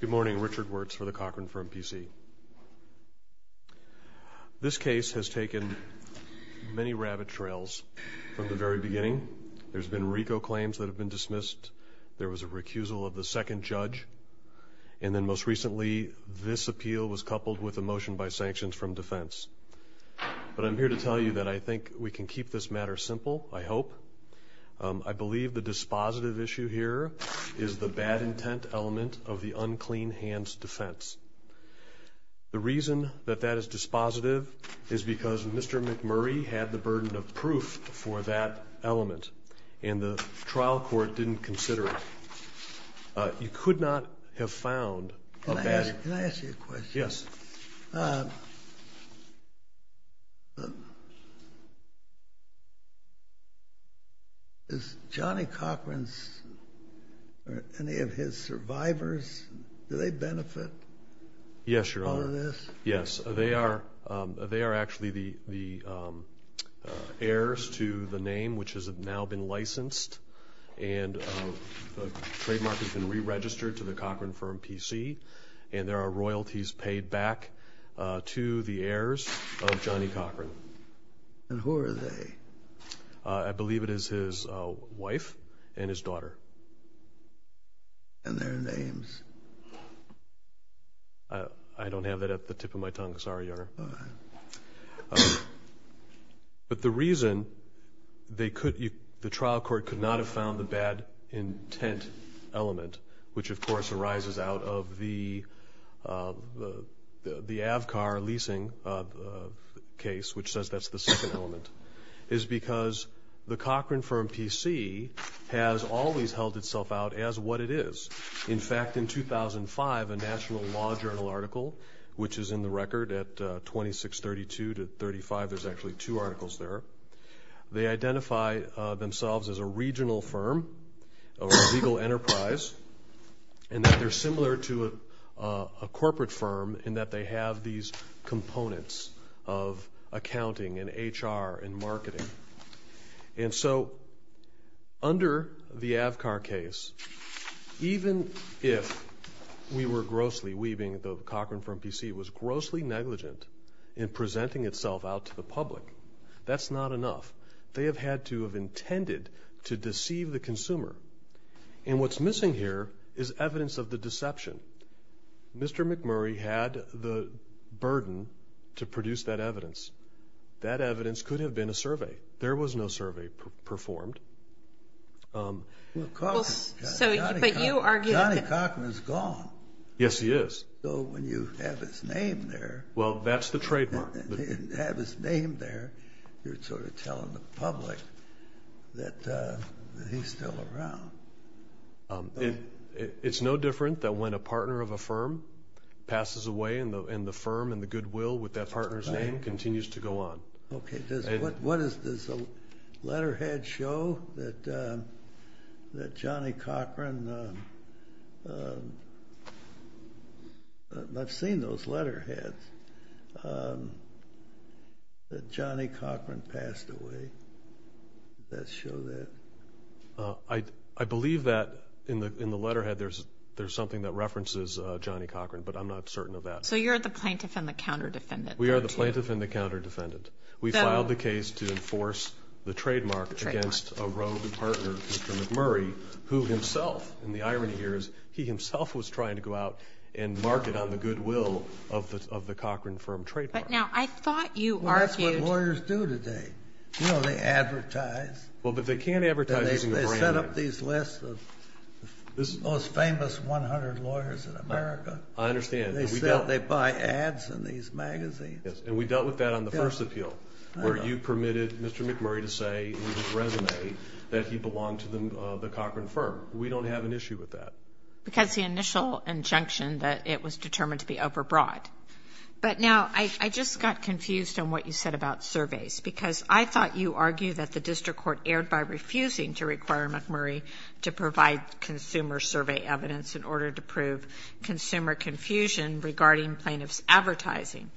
Good morning, Richard Wirtz for the Cochran Firm, P.C. This case has taken many rabbit trails from the very beginning. There's been RICO claims that have been dismissed, there was a recusal of the second judge, and then most recently this appeal was coupled with a motion by sanctions from defense. But I'm here to tell you that I think we can keep this matter simple, I hope. I believe the dispositive issue here is the bad intent element of the unclean hands defense. The reason that that is dispositive is because Mr. McMurray had the burden of proof for that element, and the trial court didn't consider it. You could not have found a bad... Can I ask you a question? Yes. Is Johnny Cochran's, or any of his survivors, do they benefit? Yes, Your Honor. Yes, they are actually the heirs to the name which has now been licensed, and the trademark has been re-registered to the Cochran Firm, P.C., and there are royalties paid back to the heirs of Johnny Cochran. And who are they? I believe it is his wife and his daughter. And their names? I don't have that at the tip of my tongue, sorry, Your Honor. But the reason they could, the trial court could not have found the bad intent element, which of course arises out of the the the Avcar leasing case, which says that's the second element, is because the Cochran Firm, P.C., has always held itself out as what it is. In fact, in 2005, a National Law Journal article, which is in the record at 2632 to 35, there's actually two articles there, they identify themselves as a regional firm or a legal enterprise, and that they're similar to a corporate firm in that they have these components of accounting and HR and marketing. And so under the Avcar case, even if we were grossly, we being the Cochran Firm, P.C., was grossly negligent in presenting itself out to the public, that's not enough. They have had to have intended to deceive the consumer. And what's missing here is evidence of the deception. Mr. McMurray had the burden to produce that evidence. That evidence could have been a survey. There was no survey performed. But you argue that... Johnny Cochran is gone. Yes, he is. So when you have his name there... Well, that's the trademark. When you have his name there, you're sort of telling the public that he's still around. It's no different that when a partner of a firm passes away, and the firm and the goodwill with that partner's name continues to go on. Okay, does the letterhead show that Johnny Cochran... I've seen those letterheads, that Johnny Cochran passed away. Does that show that? I believe that in the letterhead there's something that references Johnny Cochran, but I'm not certain of that. So you're the plaintiff and the counter-defendant there, too? I'm the plaintiff and the counter-defendant. We filed the case to enforce the trademark against a rogue partner, Mr. McMurray, who himself, and the irony here is he himself was trying to go out and market on the goodwill of the Cochran firm trademark. But now, I thought you argued... Well, that's what lawyers do today. You know, they advertise. Well, but they can't advertise using a brand name. They set up these lists of the most famous 100 lawyers in America. I understand, but we don't... They buy ads in these magazines. And we dealt with that on the first appeal, where you permitted Mr. McMurray to say in his resume that he belonged to the Cochran firm. We don't have an issue with that. Because the initial injunction that it was determined to be over-broad. But now, I just got confused on what you said about surveys, because I thought you argued that the district court erred by refusing to require McMurray to provide consumer survey evidence in order to prove consumer confusion regarding plaintiff's advertising.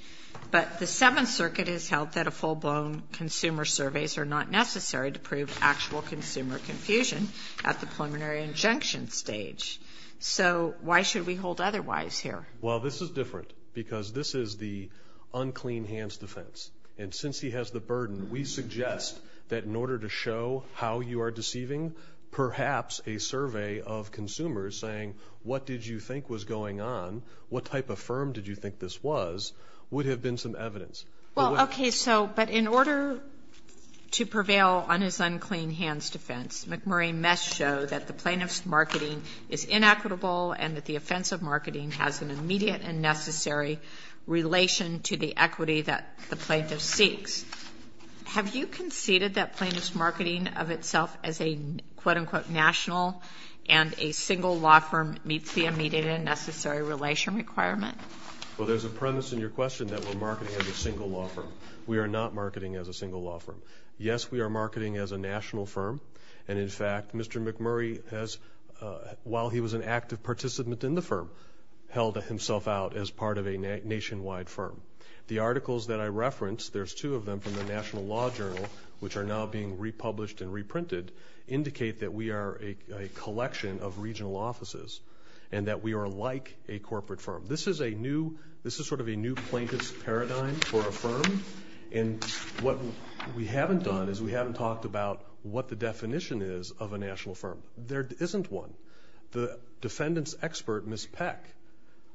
But the Seventh Circuit has held that a full-blown consumer surveys are not necessary to prove actual consumer confusion at the preliminary injunction stage. So, why should we hold otherwise here? Well, this is different, because this is the unclean hands defense. And since he has the burden, we suggest that in order to show how you are deceiving, perhaps a survey of consumers saying, what did you think was going on, what type of firm did you think this was, would have been some evidence. Well, okay. So, but in order to prevail on his unclean hands defense, McMurray must show that the plaintiff's marketing is inequitable and that the offense of marketing has an immediate and necessary relation to the equity that the plaintiff seeks. Have you conceded that plaintiff's marketing of itself as a, quote-unquote, national and a single law firm meets the immediate and necessary relation requirement? Well, there's a premise in your question that we're marketing as a single law firm. We are not marketing as a single law firm. Yes, we are marketing as a national firm. And, in fact, Mr. McMurray has, while he was an active participant in the firm, held himself out as part of a nationwide firm. The articles that I referenced, there's two of them from the National Law Journal, which are now being republished and reprinted, indicate that we are a collection of regional offices and that we are like a corporate firm. This is a new, this is sort of a new plaintiff's paradigm for a firm. And what we haven't done is we haven't talked about what the definition is of a national firm. There isn't one. The defendant's expert, Ms. Peck,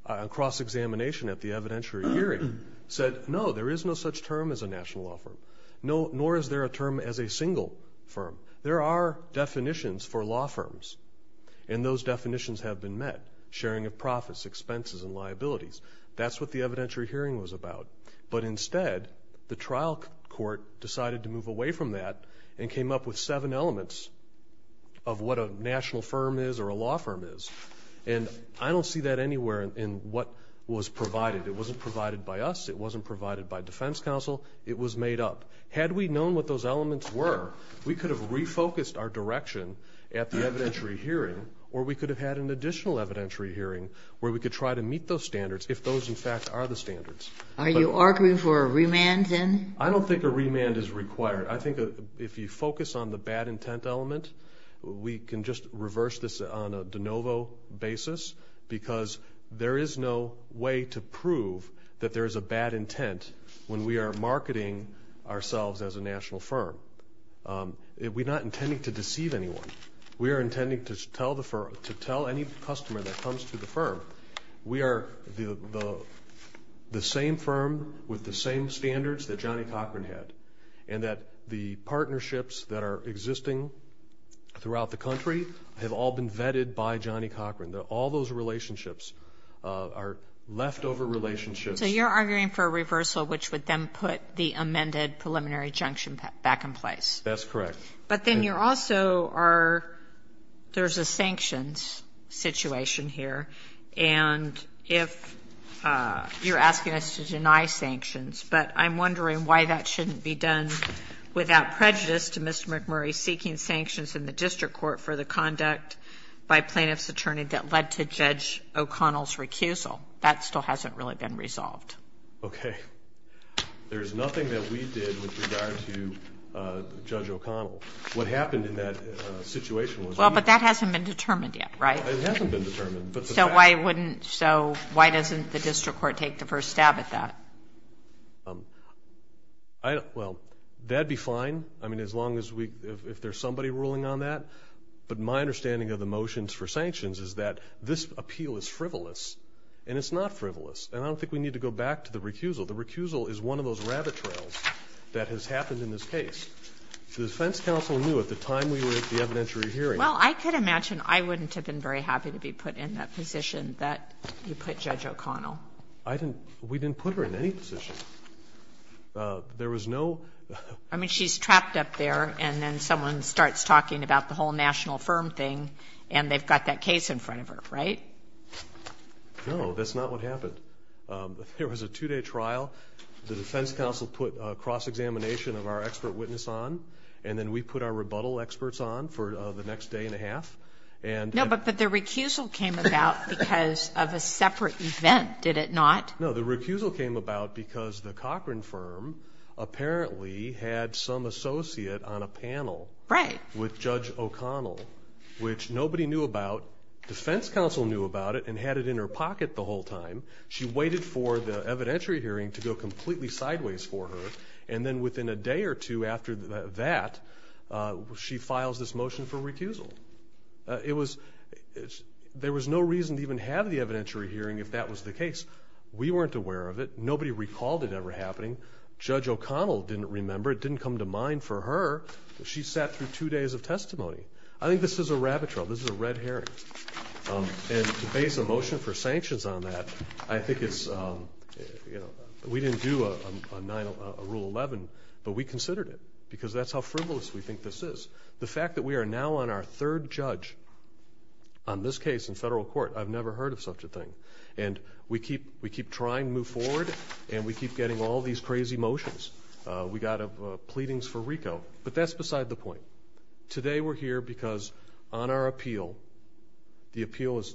on cross-examination at the evidentiary hearing, said, no, there is no such term as a national law firm. Nor is there a term as a single firm. There are definitions for law firms, and those definitions have been met, sharing of profits, expenses, and liabilities. That's what the evidentiary hearing was about. But instead, the trial court decided to move away from that and came up with seven elements of what a national firm is or a law firm is. And I don't see that anywhere in what was provided. It wasn't provided by us. It wasn't provided by defense counsel. It was made up. Had we known what those elements were, we could have refocused our direction at the evidentiary hearing or we could have had an additional evidentiary hearing where we could try to meet those standards if those, in fact, are the standards. Are you arguing for a remand, then? I don't think a remand is required. I think if you focus on the bad intent element, we can just reverse this on a de novo basis because there is no way to prove that there is a bad intent when we are marketing ourselves as a national firm. We're not intending to deceive anyone. We are intending to tell any customer that comes to the firm, we are the same firm with the same standards that Johnny Cochran had and that the partnerships that are existing throughout the country have all been vetted by Johnny Cochran. All those relationships are leftover relationships. So you're arguing for a reversal, which would then put the amended preliminary junction back in place. That's correct. But then you're also are, there's a sanctions situation here. And if you're asking us to deny sanctions, but I'm wondering why that shouldn't be done without prejudice to Mr. McMurray seeking sanctions in the district court for the conduct by plaintiff's attorney that led to Judge O'Connell's recusal. That still hasn't really been resolved. Okay. There's nothing that we did with regard to Judge O'Connell. What happened in that situation was we. Well, but that hasn't been determined yet, right? It hasn't been determined. So why doesn't the district court take the first stab at that? Well, that'd be fine. I mean, as long as we, if there's somebody ruling on that. But my understanding of the motions for sanctions is that this appeal is frivolous. And it's not frivolous. And I don't think we need to go back to the recusal. The recusal is one of those rabbit trails that has happened in this case. The defense counsel knew at the time we were at the evidentiary hearing. Well, I could imagine I wouldn't have been very happy to be put in that position that you put Judge O'Connell. I didn't. We didn't put her in any position. There was no. I mean, she's trapped up there, and then someone starts talking about the whole national firm thing, and they've got that case in front of her, right? No, that's not what happened. There was a two-day trial. The defense counsel put a cross-examination of our expert witness on, and then we put our rebuttal experts on for the next day and a half. No, but the recusal came about because of a separate event, did it not? No, the recusal came about because the Cochran firm apparently had some associate on a panel with Judge O'Connell, which nobody knew about. The defense counsel knew about it and had it in her pocket the whole time. She waited for the evidentiary hearing to go completely sideways for her, and then within a day or two after that, she files this motion for recusal. There was no reason to even have the evidentiary hearing if that was the case. We weren't aware of it. Nobody recalled it ever happening. Judge O'Connell didn't remember. It didn't come to mind for her. She sat through two days of testimony. I think this is a rabbit trail. This is a red herring. And to base a motion for sanctions on that, I think it's, you know, we didn't do a Rule 11, but we considered it because that's how frivolous we think this is. The fact that we are now on our third judge on this case in federal court, I've never heard of such a thing. And we keep trying to move forward, and we keep getting all these crazy motions. We got pleadings for RICO, but that's beside the point. Today we're here because on our appeal, the appeal is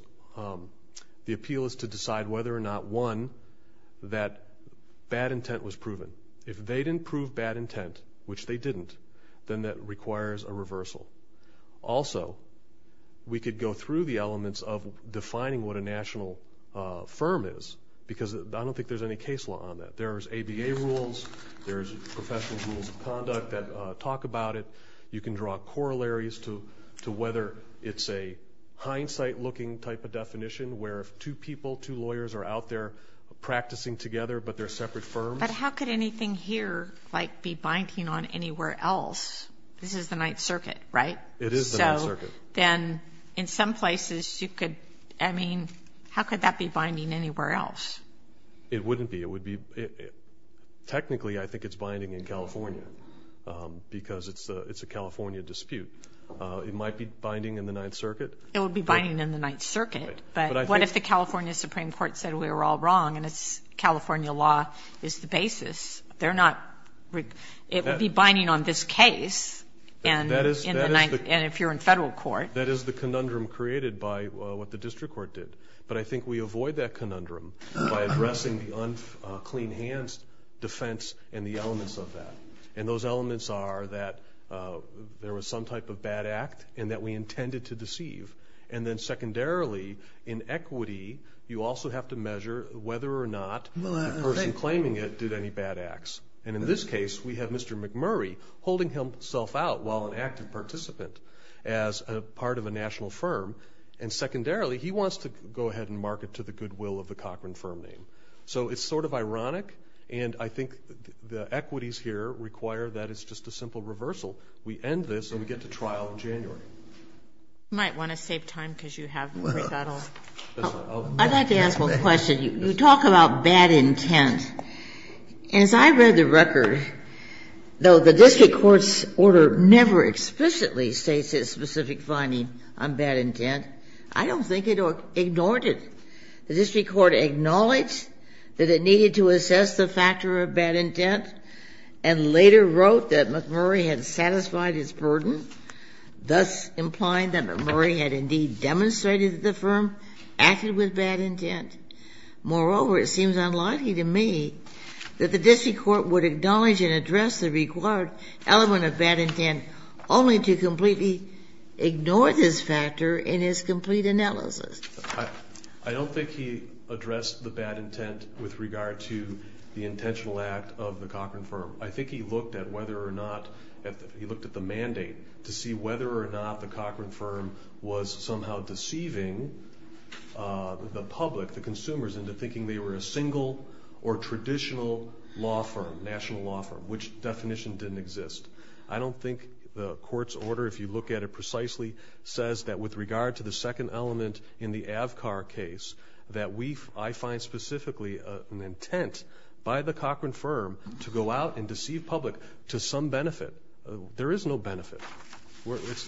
to decide whether or not, one, that bad intent was proven. If they didn't prove bad intent, which they didn't, then that requires a reversal. Also, we could go through the elements of defining what a national firm is because I don't think there's any case law on that. There's ABA rules. There's professional rules of conduct that talk about it. You can draw corollaries to whether it's a hindsight-looking type of definition where if two people, two lawyers are out there practicing together, but they're separate firms. But how could anything here, like, be binding on anywhere else? This is the Ninth Circuit, right? It is the Ninth Circuit. So then in some places you could, I mean, how could that be binding anywhere else? It wouldn't be. Technically, I think it's binding in California because it's a California dispute. It might be binding in the Ninth Circuit. It would be binding in the Ninth Circuit. But what if the California Supreme Court said we were all wrong and California law is the basis? They're not. It would be binding on this case and if you're in federal court. That is the conundrum created by what the district court did. But I think we avoid that conundrum by addressing the unclean hands defense and the elements of that. And those elements are that there was some type of bad act and that we intended to deceive. And then secondarily, in equity, you also have to measure whether or not the person claiming it did any bad acts. And in this case, we have Mr. McMurray holding himself out while an active participant as part of a national firm. And secondarily, he wants to go ahead and market to the goodwill of the Cochran firm name. So it's sort of ironic, and I think the equities here require that it's just a simple reversal. We end this and we get to trial in January. You might want to save time because you have that all. I'd like to ask one question. As I read the record, though the district court's order never explicitly states its specific finding on bad intent, I don't think it ignored it. The district court acknowledged that it needed to assess the factor of bad intent and later wrote that McMurray had satisfied his burden, thus implying that McMurray had indeed demonstrated that the firm acted with bad intent. Moreover, it seems unlikely to me that the district court would acknowledge and address the required element of bad intent only to completely ignore this factor in its complete analysis. I don't think he addressed the bad intent with regard to the intentional act of the Cochran firm. I think he looked at whether or not he looked at the mandate to see whether or not the Cochran firm was somehow deceiving the public, the consumers, into thinking they were a single or traditional law firm, national law firm, which definition didn't exist. I don't think the court's order, if you look at it precisely, says that with regard to the second element in the Avcar case, that I find specifically an intent by the Cochran firm to go out and deceive public to some benefit. There is no benefit.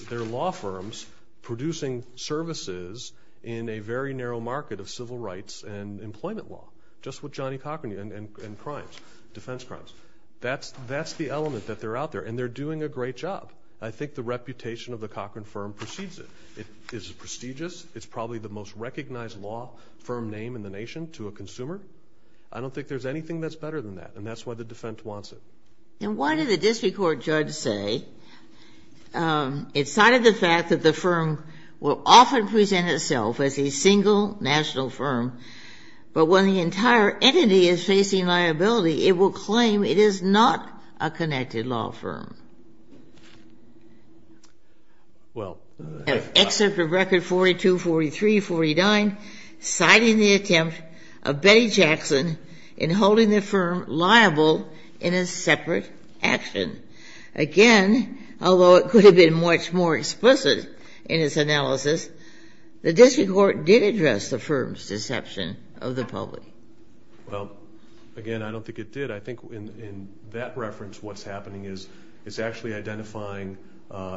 They're law firms producing services in a very narrow market of civil rights and employment law, just with Johnny Cochran and crimes, defense crimes. That's the element that they're out there, and they're doing a great job. I think the reputation of the Cochran firm precedes it. It is prestigious. It's probably the most recognized law firm name in the nation to a consumer. I don't think there's anything that's better than that, and that's why the defense wants it. And what did the district court judge say? It cited the fact that the firm will often present itself as a single national firm, but when the entire entity is facing liability, it will claim it is not a connected law firm. An excerpt of Record 42, 43, 49, citing the attempt of Betty Jackson in holding the separate action. Again, although it could have been much more explicit in its analysis, the district court did address the firm's deception of the public. Well, again, I don't think it did. I think in that reference what's happening is it's actually identifying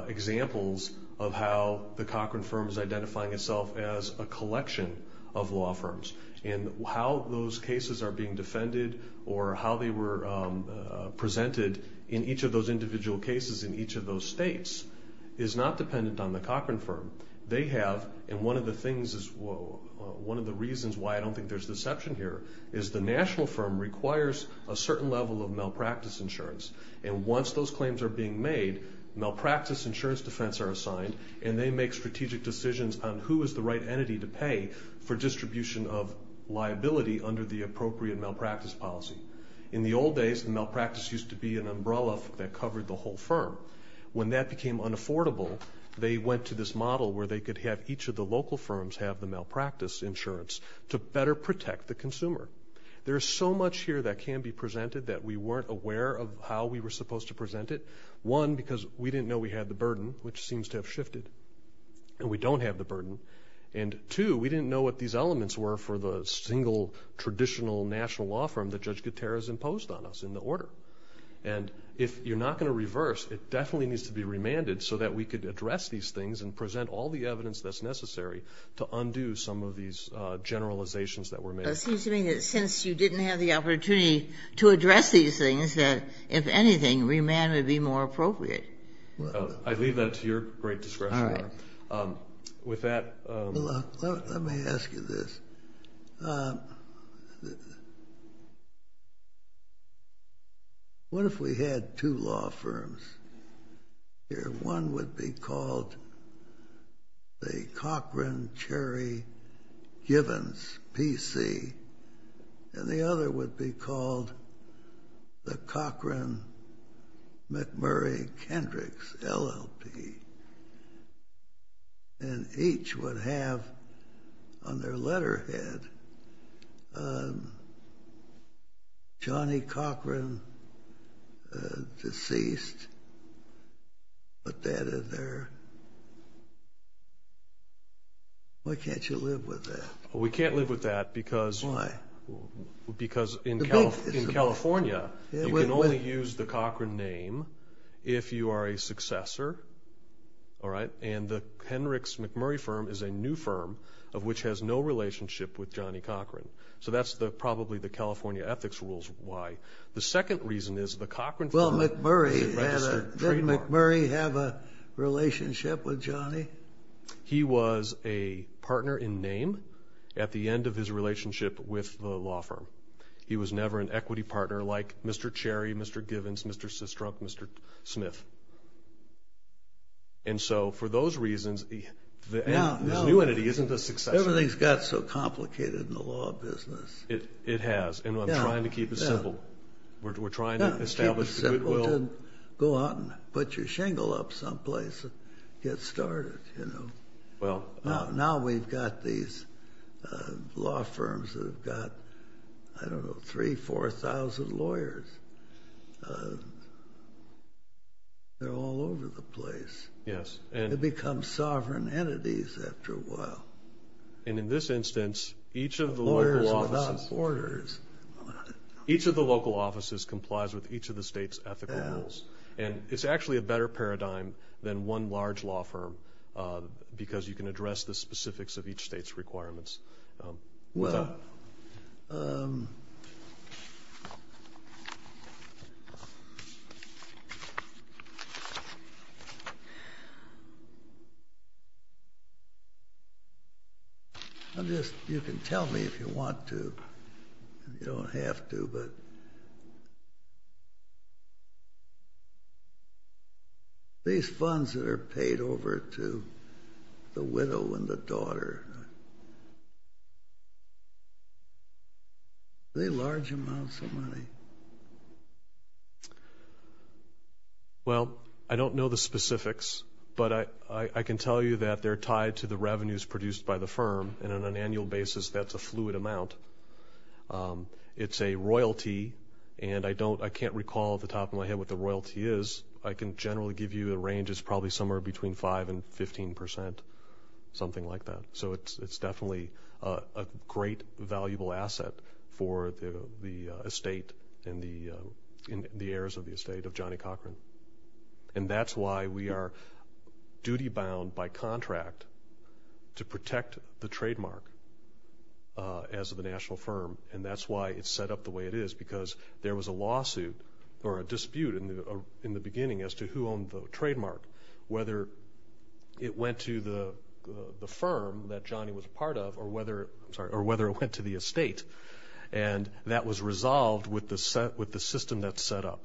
examples of how the Cochran firm is identifying itself as a collection of law firms and how those cases are being defended or how they were presented in each of those individual cases in each of those states is not dependent on the Cochran firm. They have, and one of the reasons why I don't think there's deception here, is the national firm requires a certain level of malpractice insurance. And once those claims are being made, malpractice insurance defense are assigned and they make strategic decisions on who is the right entity to pay for distribution of liability under the appropriate malpractice policy. In the old days, malpractice used to be an umbrella that covered the whole firm. When that became unaffordable, they went to this model where they could have each of the local firms have the malpractice insurance to better protect the consumer. There is so much here that can be presented that we weren't aware of how we were supposed to present it. One, because we didn't know we had the burden, which seems to have shifted, and we don't have the burden. And two, we didn't know what these elements were for the single traditional national law firm that Judge Gutierrez imposed on us in the order. And if you're not going to reverse, it definitely needs to be remanded so that we could address these things and present all the evidence that's necessary to undo some of these generalizations that were made. It seems to me that since you didn't have the opportunity to address these things, that if anything, remand would be more appropriate. I leave that to your great discretion, Your Honor. With that... Let me ask you this. What if we had two law firms here? One would be called the Cochran-Cherry-Givens PC, and the other would be called the Cochran-McMurray-Kendricks LLP, and each would have on their letterhead, Johnny Cochran, deceased. Put that in there. Why can't you live with that? We can't live with that because in California, you can only use the Cochran name if you are a successor, and the Kendricks-McMurray firm is a new firm of which has no relationship with Johnny Cochran. So that's probably the California ethics rules why. The second reason is the Cochran firm is a registered trademark. Did McMurray have a relationship with Johnny? He was a partner in name at the end of his relationship with the law firm. He was never an equity partner like Mr. Cherry, Mr. Givens, Mr. Sistrunk, Mr. Smith. And so for those reasons, his new entity isn't a successor. Everything's got so complicated in the law business. It has, and I'm trying to keep it simple. We're trying to establish that it will... Now we've got these law firms that have got, I don't know, 3,000, 4,000 lawyers. They're all over the place. They become sovereign entities after a while. And in this instance, each of the local offices... Lawyers without borders. Each of the local offices complies with each of the state's ethical rules, and it's actually a better paradigm than one large law firm because you can address the specifics of each state's requirements. Well... You can tell me if you want to. You don't have to, but... These funds that are paid over to the widow and the daughter, are they large amounts of money? Well, I don't know the specifics, but I can tell you that they're tied to the revenues produced by the firm, and on an annual basis that's a fluid amount. It's a royalty, and I can't recall off the top of my head what the royalty is. I can generally give you a range. It's probably somewhere between 5% and 15%, something like that. So it's definitely a great valuable asset for the estate and the heirs of the estate of Johnny Cochran. And that's why we are duty-bound by contract to protect the trademark as the national firm, and that's why it's set up the way it is because there was a lawsuit or a dispute in the beginning as to who owned the trademark, whether it went to the firm that Johnny was a part of or whether it went to the estate, and that was resolved with the system that's set up.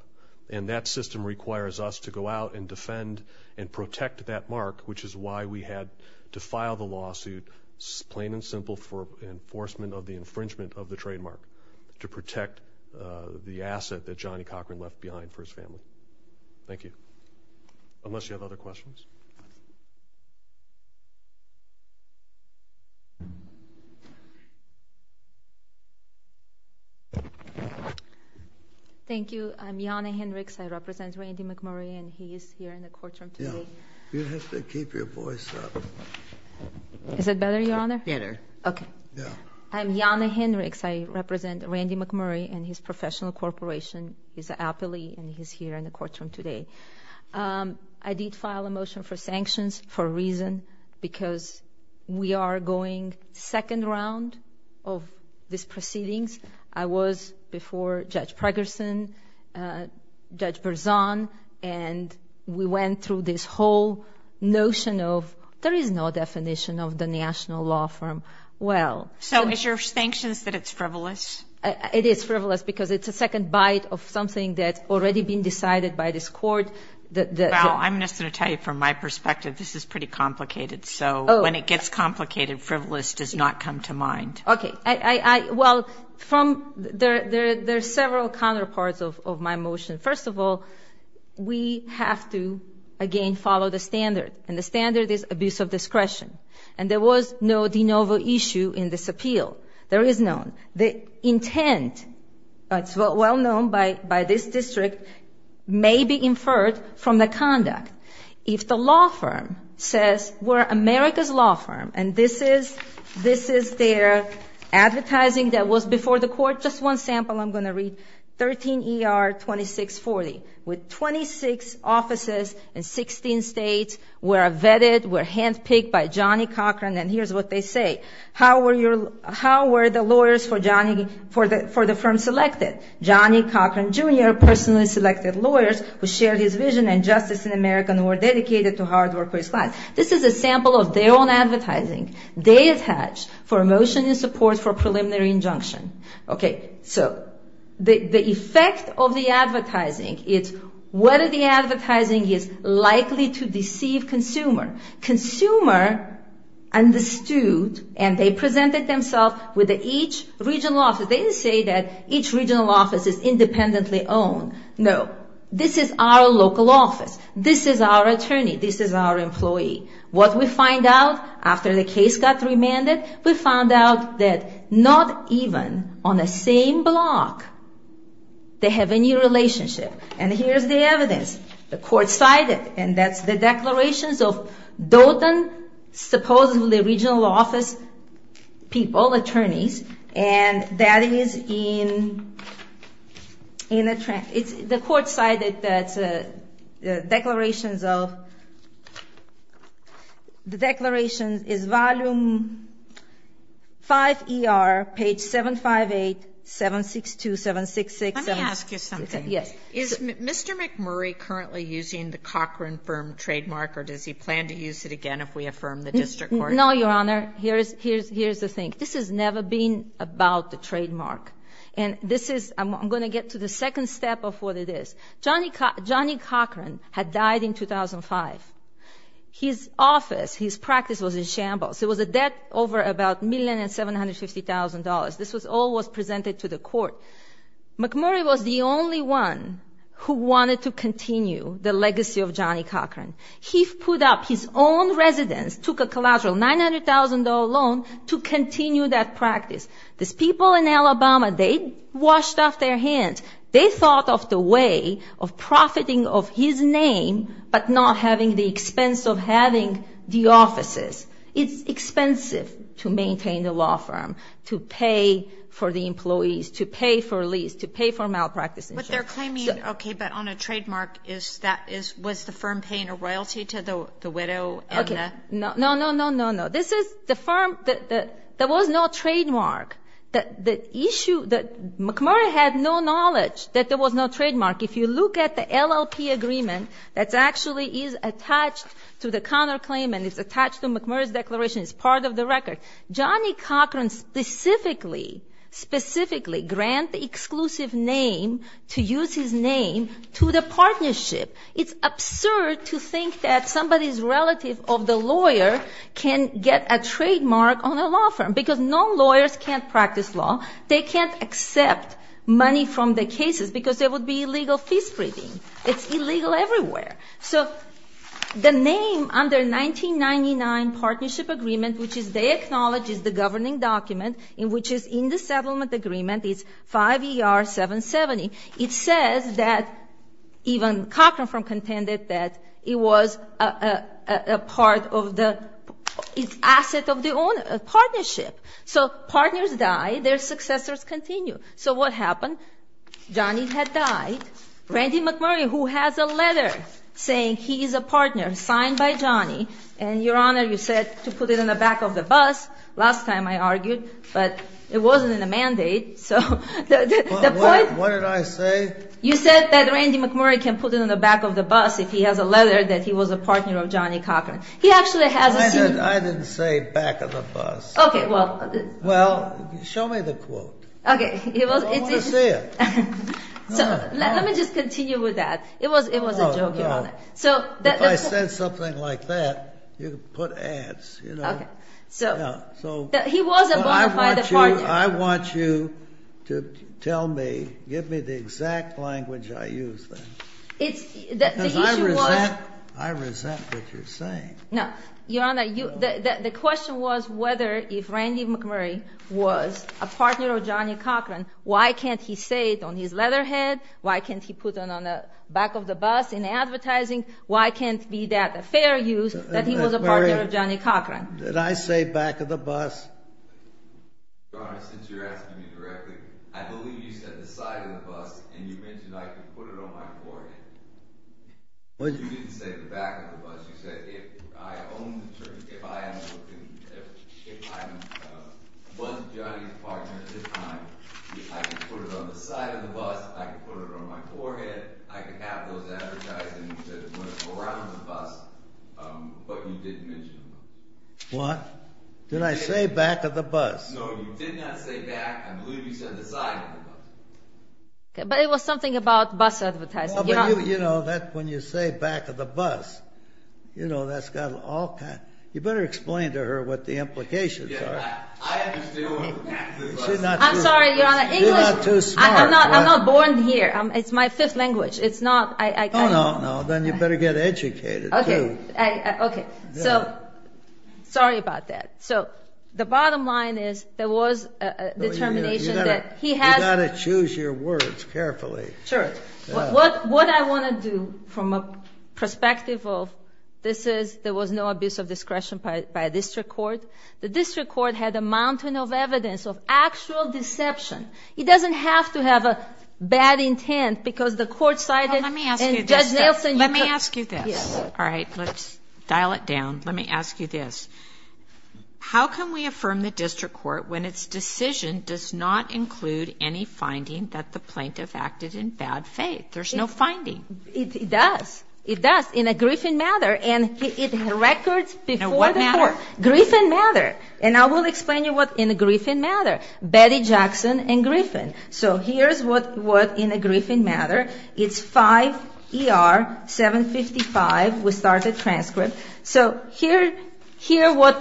And that system requires us to go out and defend and protect that mark, which is why we had to file the lawsuit, plain and simple, for enforcement of the infringement of the trademark to protect the asset that Johnny Cochran left behind for his family. Thank you. Unless you have other questions. Thank you. I'm Jana Hendricks. I represent Randy McMurray, and he is here in the courtroom today. You have to keep your voice up. Is that better, Your Honor? Better. Okay. I'm Jana Hendricks. I represent Randy McMurray and his professional corporation. He's happily, and he's here in the courtroom today. I did file a motion for sanctions for a reason because we are going second round of these proceedings. I was before Judge Pregerson, Judge Berzon, and we went through this whole notion of there is no definition of the national law firm. So is your sanctions that it's frivolous? It is frivolous because it's a second bite of something that's already been decided by this court. Val, I'm just going to tell you from my perspective, this is pretty complicated. So when it gets complicated, frivolous does not come to mind. Okay. Well, there are several counterparts of my motion. First of all, we have to, again, follow the standard, and the standard is abuse of discretion. And there was no de novo issue in this appeal. There is none. The intent, it's well known by this district, may be inferred from the conduct. If the law firm says we're America's law firm, and this is their advertising that was before the court. Just one sample I'm going to read. 13 ER 2640 with 26 offices in 16 states were vetted, were handpicked by Johnny Cochran, and here's what they say. How were the lawyers for the firm selected? Johnny Cochran, Jr., personally selected lawyers who shared his vision and justice in America and were dedicated to hard work for his clients. This is a sample of their own advertising. They attach for a motion in support for preliminary injunction. Okay, so the effect of the advertising is whether the advertising is likely to deceive consumer. Consumer understood, and they presented themselves with each regional office. They didn't say that each regional office is independently owned. No, this is our local office. This is our attorney. This is our employee. What we find out after the case got remanded, we found out that not even on the same block they have any relationship. And here's the evidence. The court cited, and that's the declarations of DOTA, supposedly regional office people, attorneys, and that is in a transcript. The court cited that declarations of, the declaration is volume 5ER, page 758, 762, 766. Let me ask you something. Yes. Is Mr. McMurray currently using the Cochran firm trademark, or does he plan to use it again if we affirm the district court? No, Your Honor. Here's the thing. This has never been about the trademark. And this is, I'm going to get to the second step of what it is. Johnny Cochran had died in 2005. His office, his practice was in shambles. It was a debt over about $1,750,000. This all was presented to the court. McMurray was the only one who wanted to continue the legacy of Johnny Cochran. He put up his own residence, took a collateral $900,000 loan to continue that practice. These people in Alabama, they washed off their hands. They thought of the way of profiting of his name but not having the expense of having the offices. It's expensive to maintain the law firm, to pay for the employees, to pay for lease, to pay for malpractice insurance. But they're claiming, okay, but on a trademark, was the firm paying a royalty to the widow? No, no, no, no, no, no. This is the firm that there was no trademark. The issue that McMurray had no knowledge that there was no trademark. If you look at the LLP agreement that actually is attached to the Connor claim and is attached to McMurray's declaration, it's part of the record. Johnny Cochran specifically, specifically grant the exclusive name, to use his name, to the partnership. It's absurd to think that somebody's relative of the lawyer can get a trademark on a law firm because no lawyers can't practice law. They can't accept money from the cases because there would be illegal fee spreading. It's illegal everywhere. So the name under 1999 partnership agreement, which they acknowledge is the governing document, which is in the settlement agreement, it's 5ER-770. It says that even Cochran firm contended that it was a part of the asset of the partnership. So partners die, their successors continue. So what happened? Johnny had died. Randy McMurray, who has a letter saying he is a partner, signed by Johnny. And, Your Honor, you said to put it in the back of the bus. Last time I argued, but it wasn't in the mandate. So the point- What did I say? You said that Randy McMurray can put it in the back of the bus if he has a letter that he was a partner of Johnny Cochran. He actually has a- I didn't say back of the bus. Okay, well- Well, show me the quote. Okay, it was- I want to see it. Let me just continue with that. It was a joke, Your Honor. If I said something like that, you could put ads, you know? Okay. He was a bona fide partner. I want you to tell me, give me the exact language I used then. The issue was- Because I resent what you're saying. No, Your Honor, the question was whether if Randy McMurray was a partner of Johnny Cochran, why can't he say it on his letterhead? Why can't he put it on the back of the bus in advertising? Why can't it be that fair use that he was a partner of Johnny Cochran? Did I say back of the bus? Your Honor, since you're asking me directly, I believe you said the side of the bus, and you mentioned I could put it on my forehead. You didn't say the back of the bus. You said if I was Johnny's partner at the time, I could put it on the side of the bus, I could put it on my forehead, I could have those advertising that went around the bus, but you didn't mention the bus. What? Didn't I say back of the bus? No, you did not say back. I believe you said the side of the bus. But it was something about bus advertising. When you say back of the bus, you better explain to her what the implications are. I'm sorry, Your Honor. You're not too smart. I'm not born here. It's my fifth language. No, no, no. Then you better get educated, too. Sorry about that. The bottom line is there was a determination that he has... You've got to choose your words carefully. Sure. What I want to do from a perspective of this is there was no abuse of discretion by a district court. The district court had a mountain of evidence of actual deception. It doesn't have to have a bad intent because the court cited... Let me ask you this. Let me ask you this. Yes. All right. Let's dial it down. Let me ask you this. How can we affirm the district court when its decision does not include any finding that the plaintiff acted in bad faith? There's no finding. It does. It does in a Griffin matter. And it records before the court. Now, what matter? Griffin matter. And I will explain to you what's in a Griffin matter. Betty Jackson and Griffin. So here's what's in a Griffin matter. It's 5 ER 755. We start the transcript. So here what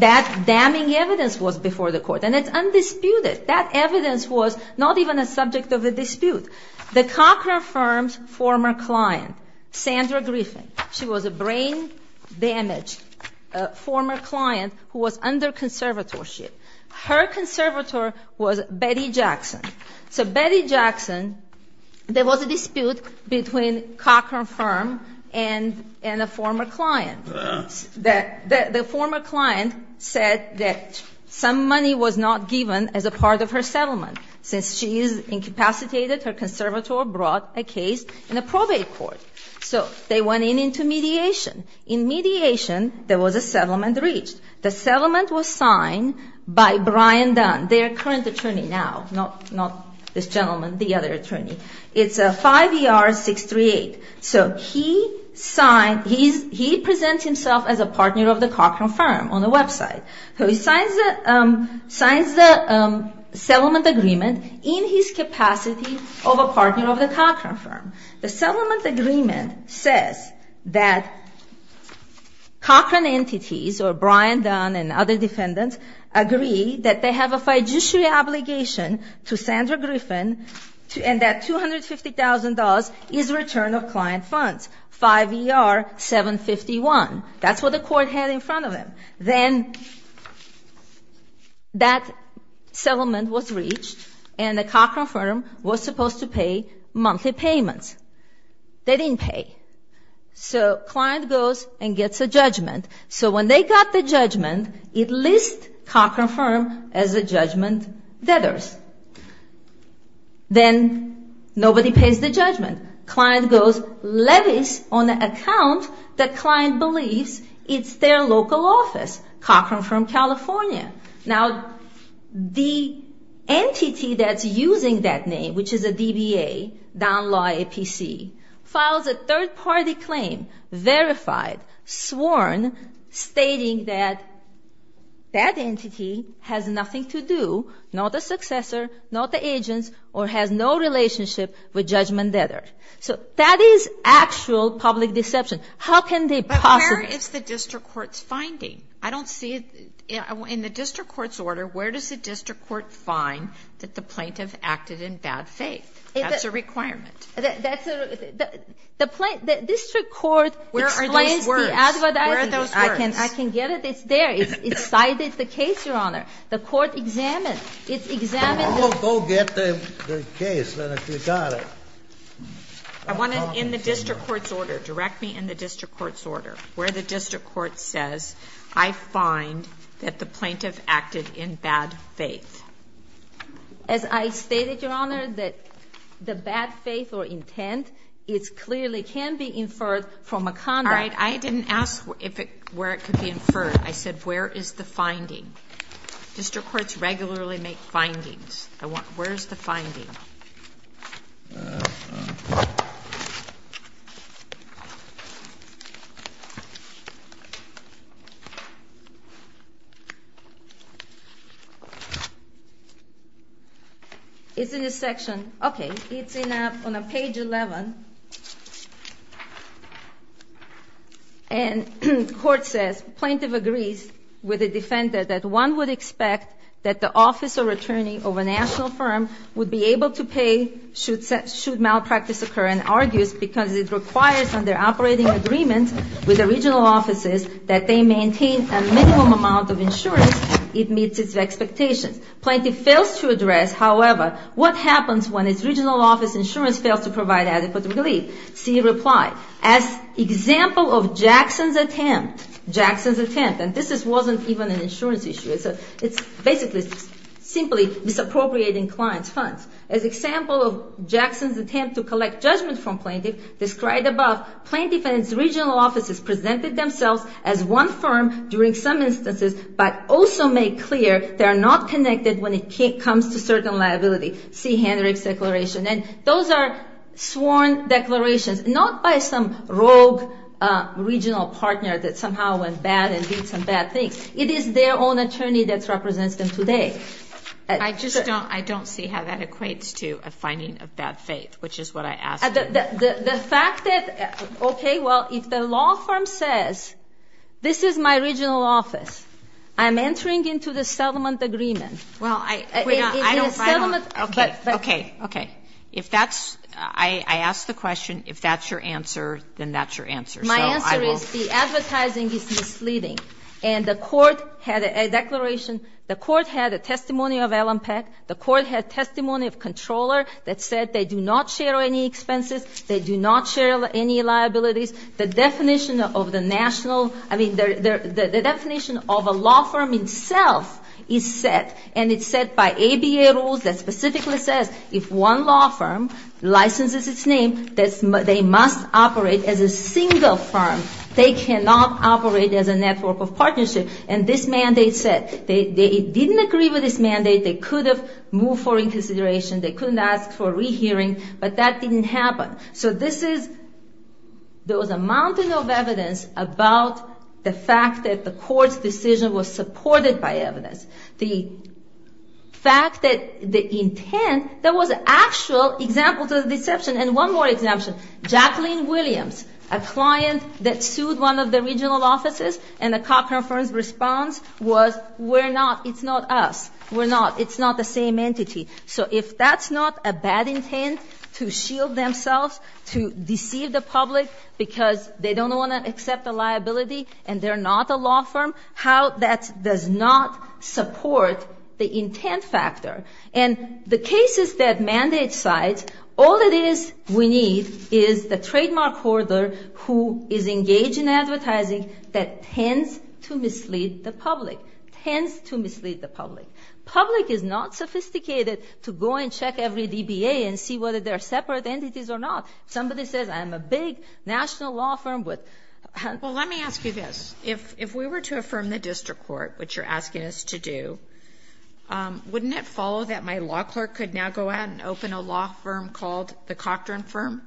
that damning evidence was before the court. And it's undisputed. That evidence was not even a subject of a dispute. The Cochran Firm's former client, Sandra Griffin, she was a brain damaged former client who was under conservatorship. Her conservator was Betty Jackson. So Betty Jackson, there was a dispute between Cochran Firm and a former client. The former client said that some money was not given as a part of her settlement. Since she is incapacitated, her conservator brought a case in a probate court. So they went in into mediation. In mediation, there was a settlement reached. The settlement was signed by Brian Dunn, their current attorney now. Not this gentleman, the other attorney. It's 5 ER 638. So he signed, he presents himself as a partner of the Cochran Firm on the website. So he signs the settlement agreement in his capacity of a partner of the Cochran Firm. The settlement agreement says that Cochran entities, or Brian Dunn and other defendants, agree that they have a fiduciary obligation to Sandra Griffin and that $250,000 is return of client funds, 5 ER 751. That's what the court had in front of them. Then that settlement was reached and the Cochran Firm was supposed to pay monthly payments. They didn't pay. So client goes and gets a judgment. So when they got the judgment, it lists Cochran Firm as a judgment debtors. Then nobody pays the judgment. Client goes, levies on an account that client believes it's their local office, Cochran Firm, California. Now, the entity that's using that name, which is a DBA, Dunn Law, APC, files a third-party claim, verified, sworn, stating that that entity has nothing to do, not a successor, not the agents, or has no relationship with judgment debtors. So that is actual public deception. How can they possibly – But where is the district court's finding? I don't see it. In the district court's order, where does the district court find that the plaintiff acted in bad faith? That's a requirement. That's a – the district court – Where are those words? Where are those words? I can get it. It's there. It's cited the case, Your Honor. The court examined. It examined the – Well, go get the case, then, if you got it. I want it in the district court's order. Direct me in the district court's order, where the district court says, I find that the plaintiff acted in bad faith. As I stated, Your Honor, that the bad faith or intent, it clearly can be inferred from a conduct – All right. I didn't ask where it could be inferred. I said, where is the finding? District courts regularly make findings. Where is the finding? It's in this section. Okay. It's on page 11. And the court says, plaintiff agrees with the defender that one would expect that the office or attorney of a national firm would be able to pay should malpractice occur and argues because it requires under operating agreement with the regional offices that they maintain a minimum amount of insurance. It meets its expectations. Plaintiff fails to address, however, what happens when its regional office insurance fails to provide adequate remuneration See reply. As example of Jackson's attempt. Jackson's attempt. And this wasn't even an insurance issue. It's basically simply misappropriating clients' funds. As example of Jackson's attempt to collect judgment from plaintiff, described above, plaintiff and its regional offices presented themselves as one firm during some instances but also made clear they are not connected when it comes to certain liability. See Hendrick's declaration. And those are sworn declarations, not by some rogue regional partner that somehow went bad and did some bad things. It is their own attorney that represents them today. I just don't see how that equates to a finding of bad faith, which is what I asked. The fact that, okay, well, if the law firm says, this is my regional office. I'm entering into the settlement agreement. Okay. Okay. Okay. If that's, I ask the question, if that's your answer, then that's your answer. My answer is the advertising is misleading. And the court had a declaration, the court had a testimony of Alan Peck, the court had testimony of controller that said they do not share any expenses, they do not share any liabilities. The definition of the national, I mean, the definition of a law firm itself is set and it's set by ABA rules that specifically says if one law firm licenses its name, they must operate as a single firm. They cannot operate as a network of partnership. And this mandate said they didn't agree with this mandate. They could have moved forward in consideration. They couldn't ask for a rehearing. But that didn't happen. So this is, there was a mountain of evidence about the fact that the court's decision was supported by evidence. The fact that the intent, there was actual example to the deception. And one more exemption. Jacqueline Williams, a client that sued one of the regional offices, and the conference response was we're not, it's not us, we're not, it's not the same entity. So if that's not a bad intent to shield themselves, to deceive the public because they don't want to accept a liability and they're not a law firm, how that does not support the intent factor. And the cases that mandate sites, all it is we need is the trademark hoarder who is engaged in advertising that tends to mislead the public, tends to mislead the public. Public is not sophisticated to go and check every DBA and see whether they're separate entities or not. Somebody says I'm a big national law firm with. Well, let me ask you this. If we were to affirm the district court, which you're asking us to do, wouldn't it follow that my law clerk could now go out and open a law firm called the Cochran firm?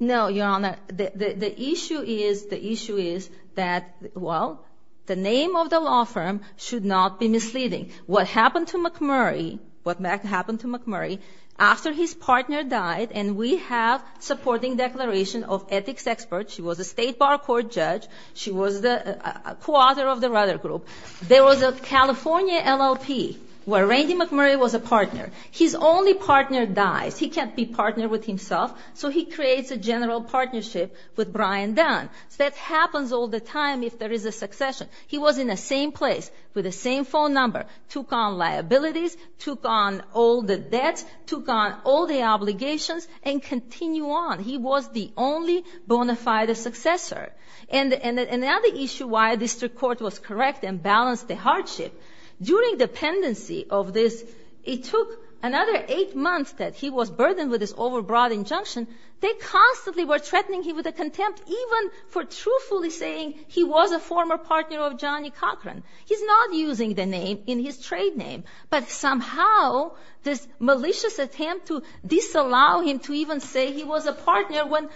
No, Your Honor. The issue is, the issue is that, well, the name of the law firm should not be misleading. What happened to McMurray, what happened to McMurray after his partner died and we have supporting declaration of ethics experts. She was a state bar court judge. She was the co-author of the Rudder Group. There was a California LLP where Randy McMurray was a partner. His only partner dies. He can't be partner with himself, so he creates a general partnership with Brian Dunn. That happens all the time if there is a succession. He was in the same place with the same phone number, took on liabilities, took on all the debts, took on all the obligations, and continue on. He was the only bona fide successor. And another issue why the district court was correct and balanced the hardship, during the pendency of this, it took another eight months that he was burdened with this overbroad injunction, they constantly were threatening him with a contempt even for truthfully saying he was a former partner of Johnny Cochran. He's not using the name in his trade name. But somehow this malicious attempt to disallow him to even say he was a partner when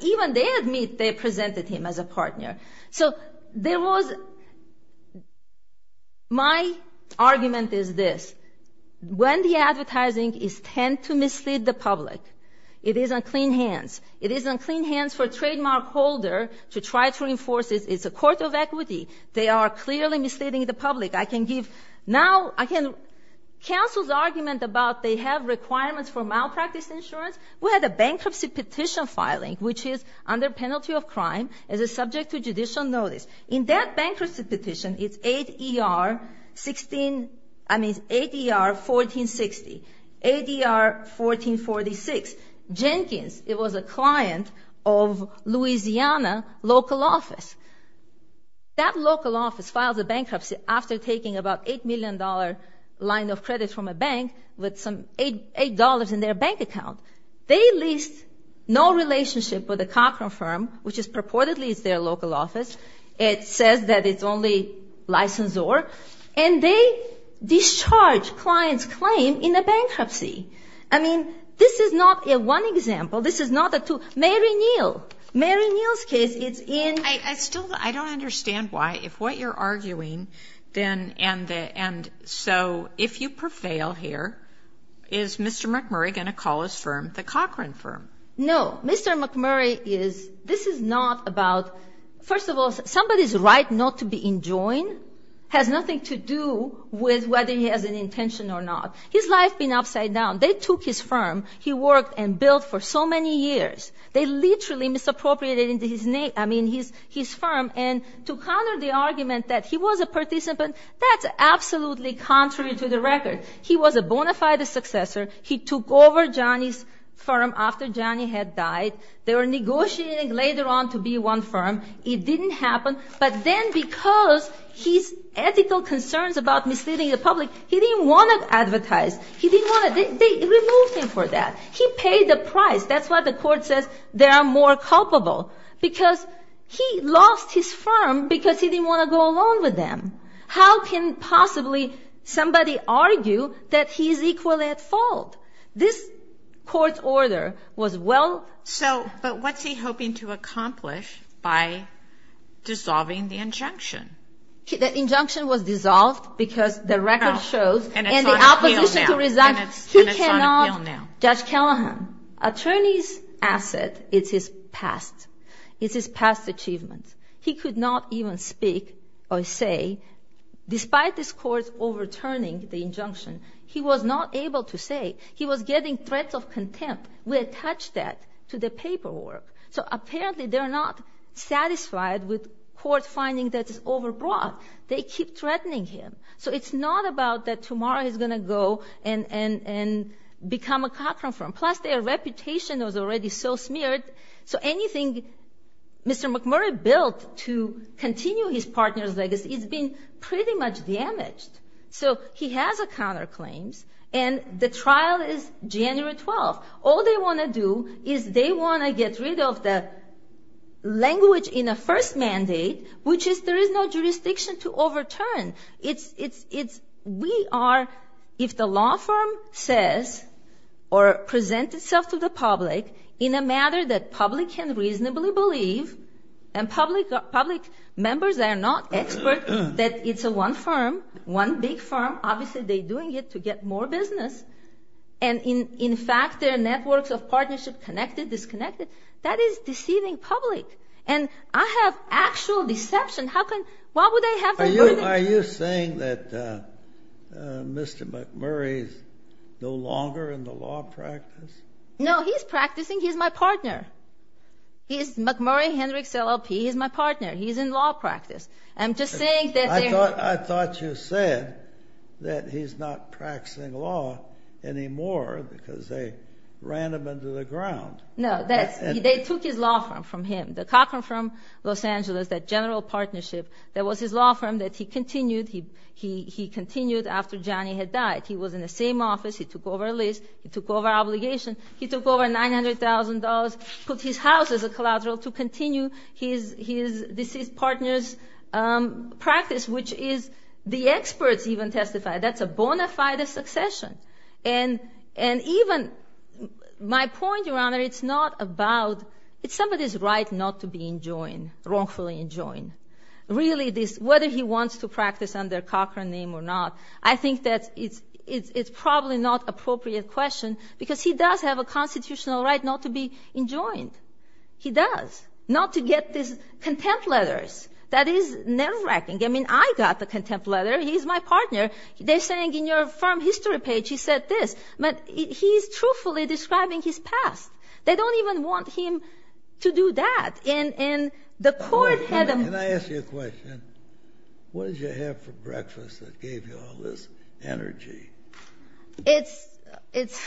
even they admit they presented him as a partner. So there was my argument is this. When the advertising is tend to mislead the public, it is on clean hands. It is on clean hands for a trademark holder to try to reinforce it. It's a court of equity. They are clearly misleading the public. Now counsel's argument about they have requirements for malpractice insurance, we had a bankruptcy petition filing which is under penalty of crime as a subject to judicial notice. In that bankruptcy petition, it's ADR 1460, ADR 1446. Jenkins, it was a client of Louisiana local office. That local office filed the bankruptcy after taking about $8 million line of credit from a bank with some $8 in their bank account. They leased no relationship with the Cochran firm, which purportedly is their local office. It says that it's only licensor. And they discharged client's claim in a bankruptcy. I mean, this is not a one example. This is not a two. Mary Neal. Mary Neal's case is in. I still don't understand why. If what you're arguing, then, and so if you prevail here, is Mr. McMurray going to call his firm the Cochran firm? No. Mr. McMurray is. This is not about. First of all, somebody's right not to be enjoined has nothing to do with whether he has an intention or not. His life has been upside down. They took his firm. He worked and built for so many years. They literally misappropriated his name, I mean, his firm. And to counter the argument that he was a participant, that's absolutely contrary to the record. He was a bona fide successor. He took over Johnny's firm after Johnny had died. They were negotiating later on to be one firm. It didn't happen. But then because his ethical concerns about misleading the public, he didn't want to advertise. He didn't want to. They removed him for that. He paid the price. That's why the court says they are more culpable. Because he lost his firm because he didn't want to go along with them. How can possibly somebody argue that he is equally at fault? This court's order was well. So, but what's he hoping to accomplish by dissolving the injunction? The injunction was dissolved because the record shows. And it's on appeal now. And the opposition to resign. And it's on appeal now. Judge Callahan, attorney's asset is his past. It's his past achievement. He could not even speak or say, despite this court overturning the injunction, he was not able to say. He was getting threats of contempt. We attached that to the paperwork. So, apparently, they're not satisfied with court finding that it's overbroad. They keep threatening him. So, it's not about that tomorrow he's going to go and become a Cochran firm. Plus, their reputation was already so smeared. So, anything Mr. McMurray built to continue his partner's legacy has been pretty much damaged. So, he has a counterclaim. And the trial is January 12th. All they want to do is they want to get rid of the language in the first mandate, which is there is no jurisdiction to overturn. We are, if the law firm says or presents itself to the public in a matter that public can reasonably believe, and public members are not experts, that it's one firm, one big firm. Obviously, they're doing it to get more business. And, in fact, their networks of partnership connected, disconnected. That is deceiving public. And I have actual deception. Are you saying that Mr. McMurray is no longer in the law practice? No, he's practicing. He's my partner. He's McMurray, Hendricks, LLP. He's my partner. He's in law practice. I'm just saying that they're— I thought you said that he's not practicing law anymore because they ran him into the ground. No, they took his law firm from him. The Cochran firm, Los Angeles, that general partnership, that was his law firm that he continued. He continued after Johnny had died. He was in the same office. He took over a lease. He took over obligation. He took over $900,000, put his house as a collateral to continue his deceased partner's practice, which is the experts even testified. That's a bona fide succession. And even my point, Your Honor, it's not about—it's somebody's right not to be enjoined, wrongfully enjoined. Really, whether he wants to practice under Cochran name or not, I think that it's probably not appropriate question because he does have a constitutional right not to be enjoined. He does. Not to get these contempt letters. That is nerve-wracking. I mean, I got the contempt letter. He's my partner. They're saying in your firm history page he said this. But he's truthfully describing his past. They don't even want him to do that. And the court had a— Can I ask you a question? What did you have for breakfast that gave you all this energy? It's—it's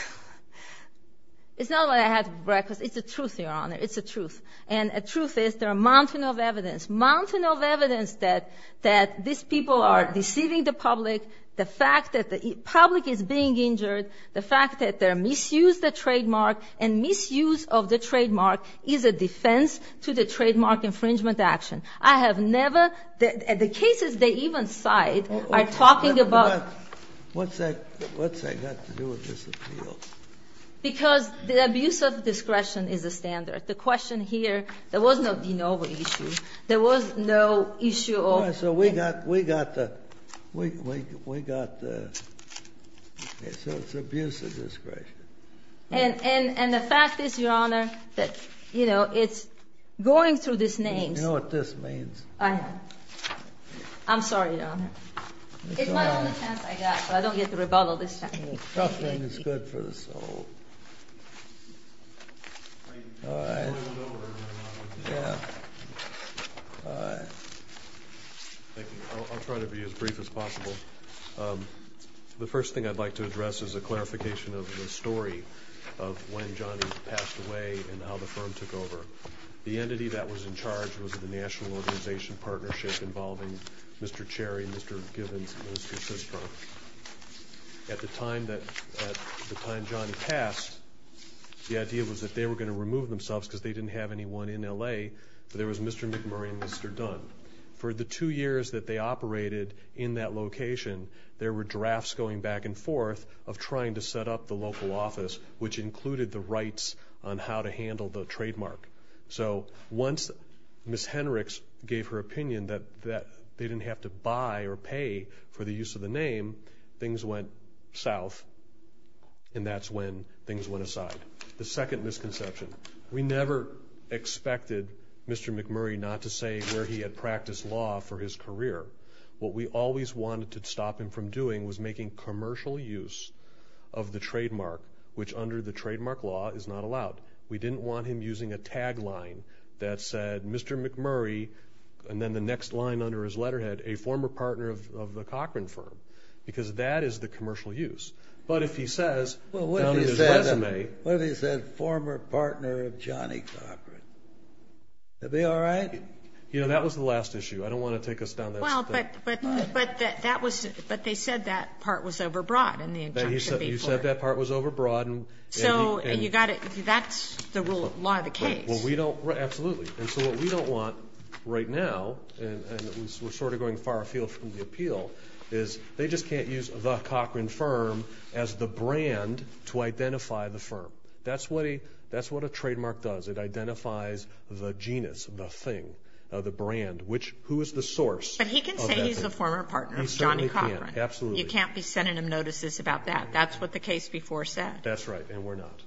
not what I had for breakfast. It's the truth, Your Honor. It's the truth. And the truth is there are a mountain of evidence, mountain of evidence that these people are deceiving the public, the fact that the public is being injured, the fact that they misused the trademark, and misuse of the trademark is a defense to the trademark infringement action. I have never—the cases they even cite are talking about— What's that—what's that got to do with this appeal? Because the abuse of discretion is a standard. The question here, there was no de novo issue. There was no issue of— So we got—we got the—we got the—so it's abuse of discretion. And—and the fact is, Your Honor, that, you know, it's going through these names. You know what this means. I know. I'm sorry, Your Honor. It's my only chance I got, so I don't get the rebuttal this time. Trusting is good for the soul. All right. Yeah. Thank you. I'll try to be as brief as possible. The first thing I'd like to address is a clarification of the story of when Johnny passed away and how the firm took over. The entity that was in charge was the National Organization Partnership involving Mr. Cherry, Mr. Givens, and Mr. Cistro. At the time that—at the time Johnny passed, the idea was that they were going to remove themselves because they didn't have anyone in L.A., but there was Mr. McMurray and Mr. Dunn. For the two years that they operated in that location, there were drafts going back and forth of trying to set up the local office, which included the rights on how to handle the trademark. So once Ms. Henrichs gave her opinion that they didn't have to buy or pay for the use of the name, things went south, and that's when things went aside. The second misconception. We never expected Mr. McMurray not to say where he had practiced law for his career. What we always wanted to stop him from doing was making commercial use of the trademark, which under the trademark law is not allowed. We didn't want him using a tagline that said, Mr. McMurray, and then the next line under his letterhead, a former partner of the Cochran firm, because that is the commercial use. But if he says— Well, what if he said former partner of Johnny Cochran? Would that be all right? You know, that was the last issue. I don't want to take us down that— Well, but that was—but they said that part was overbroad in the injunction before. You said that part was overbroad, and— So you've got to—that's the rule of law of the case. Well, we don't—absolutely. And so what we don't want right now, and we're sort of going far afield from the appeal, is they just can't use the Cochran firm as the brand to identify the firm. That's what a trademark does. It identifies the genus, the thing, the brand, which—who is the source of that thing. But he can say he's a former partner of Johnny Cochran. He certainly can. Absolutely. You can't be sending him notices about that. That's what the case before said. That's right, and we're not.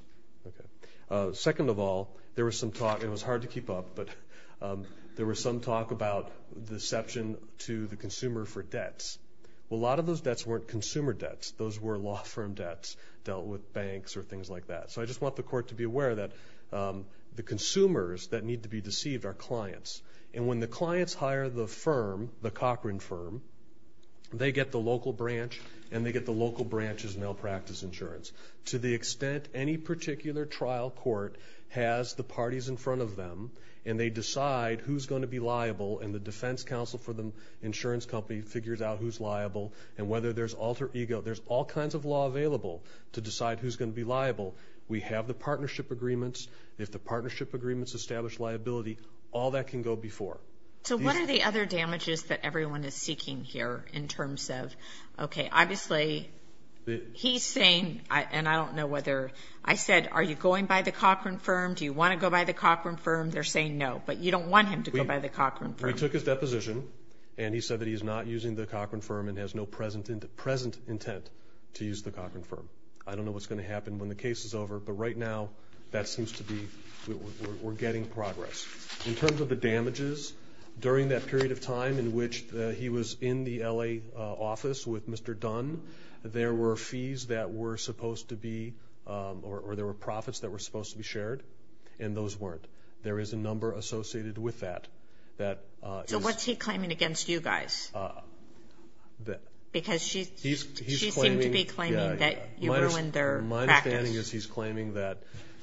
Okay. Second of all, there was some talk—it was hard to keep up, but there was some talk about deception to the consumer for debts. Well, a lot of those debts weren't consumer debts. Those were law firm debts dealt with banks or things like that. So I just want the court to be aware that the consumers that need to be deceived are clients. And when the clients hire the firm, the Cochran firm, they get the local branch and they get the local branch's malpractice insurance. To the extent any particular trial court has the parties in front of them and they decide who's going to be liable and the defense counsel for the insurance company figures out who's liable and whether there's alter ego. There's all kinds of law available to decide who's going to be liable. We have the partnership agreements. If the partnership agreements establish liability, all that can go before. So what are the other damages that everyone is seeking here in terms of, okay, obviously he's saying, and I don't know whether I said, are you going by the Cochran firm? Do you want to go by the Cochran firm? They're saying no, but you don't want him to go by the Cochran firm. We took his deposition and he said that he's not using the Cochran firm and has no present intent to use the Cochran firm. I don't know what's going to happen when the case is over, but right now that seems to be we're getting progress. In terms of the damages during that period of time in which he was in the L.A. office with Mr. Dunn, there were fees that were supposed to be or there were profits that were supposed to be shared, and those weren't. There is a number associated with that. So what's he claiming against you guys? Because she seemed to be claiming that you ruined their practice. My understanding is he's claiming that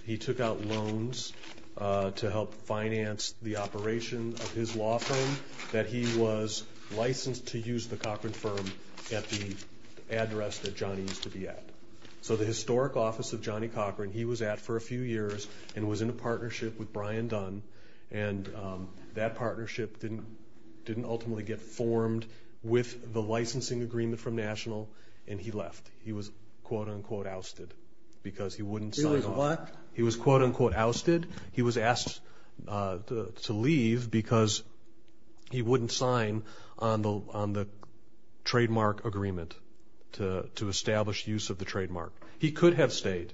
he took out loans to help finance the operation of his law firm, and that he was licensed to use the Cochran firm at the address that Johnny used to be at. So the historic office of Johnny Cochran, he was at for a few years and was in a partnership with Brian Dunn, and that partnership didn't ultimately get formed with the licensing agreement from National, and he left. He was quote-unquote ousted because he wouldn't sign off. He was what? He was quote-unquote ousted. He was asked to leave because he wouldn't sign on the trademark agreement to establish use of the trademark. He could have stayed.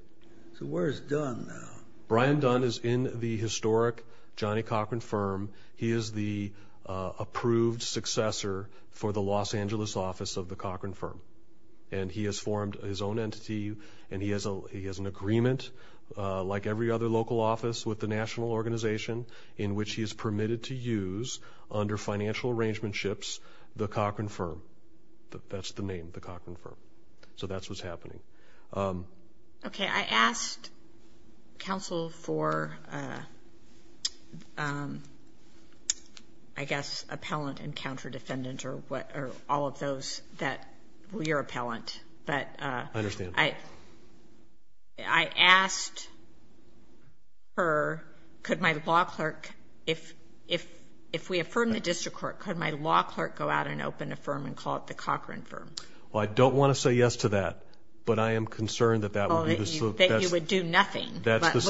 So where is Dunn now? Brian Dunn is in the historic Johnny Cochran firm. He is the approved successor for the Los Angeles office of the Cochran firm, and he has formed his own entity, and he has an agreement, like every other local office with the National organization, in which he is permitted to use, under financial arrangements, the Cochran firm. That's the name, the Cochran firm. So that's what's happening. Okay. I asked counsel for, I guess, appellant and counter-defendant or all of those that were your appellant, but I asked her, could my law clerk, if we affirm the district court, could my law clerk go out and open a firm and call it the Cochran firm? Well, I don't want to say yes to that, but I am concerned that that would be the slope. That you would do nothing. That's the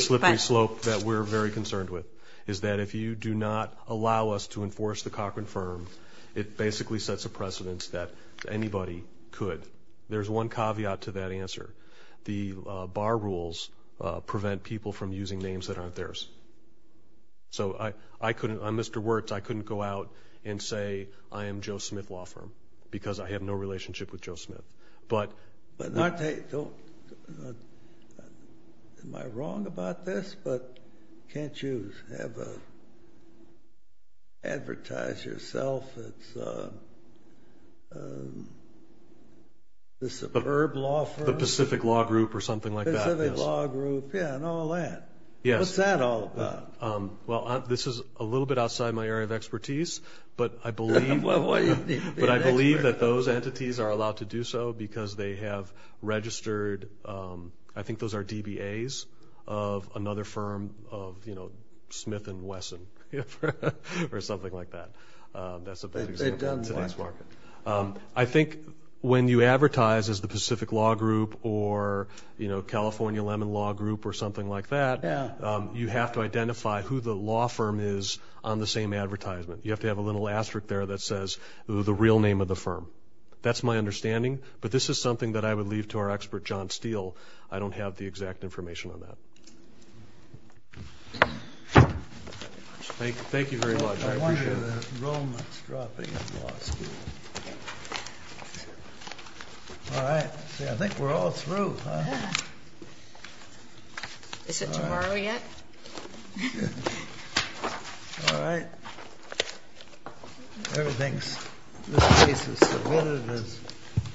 slippery slope that we're very concerned with, is that if you do not allow us to enforce the Cochran firm, it basically sets a precedent that anybody could. There's one caveat to that answer. The bar rules prevent people from using names that aren't theirs. So I couldn't, on Mr. Wertz, I couldn't go out and say, I am Joe Smith Law Firm, because I have no relationship with Joe Smith. Am I wrong about this? But can't you advertise yourself as the superb law firm? The Pacific Law Group or something like that. Pacific Law Group, yeah, and all that. What's that all about? Well, this is a little bit outside my area of expertise, but I believe that those entities are allowed to do so because they have registered, I think those are DBAs of another firm of, you know, Smith and Wesson or something like that. That's a bad example. I think when you advertise as the Pacific Law Group or, you know, California Lemon Law Group or something like that, you have to identify who the law firm is on the same advertisement. You have to have a little asterisk there that says the real name of the firm. That's my understanding. But this is something that I would leave to our expert, John Steele. I don't have the exact information on that. Thank you very much. I appreciate it. All right. I think we're all through. Is it tomorrow yet? All right. Everything's submitted as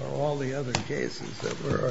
are all the other cases that were argued.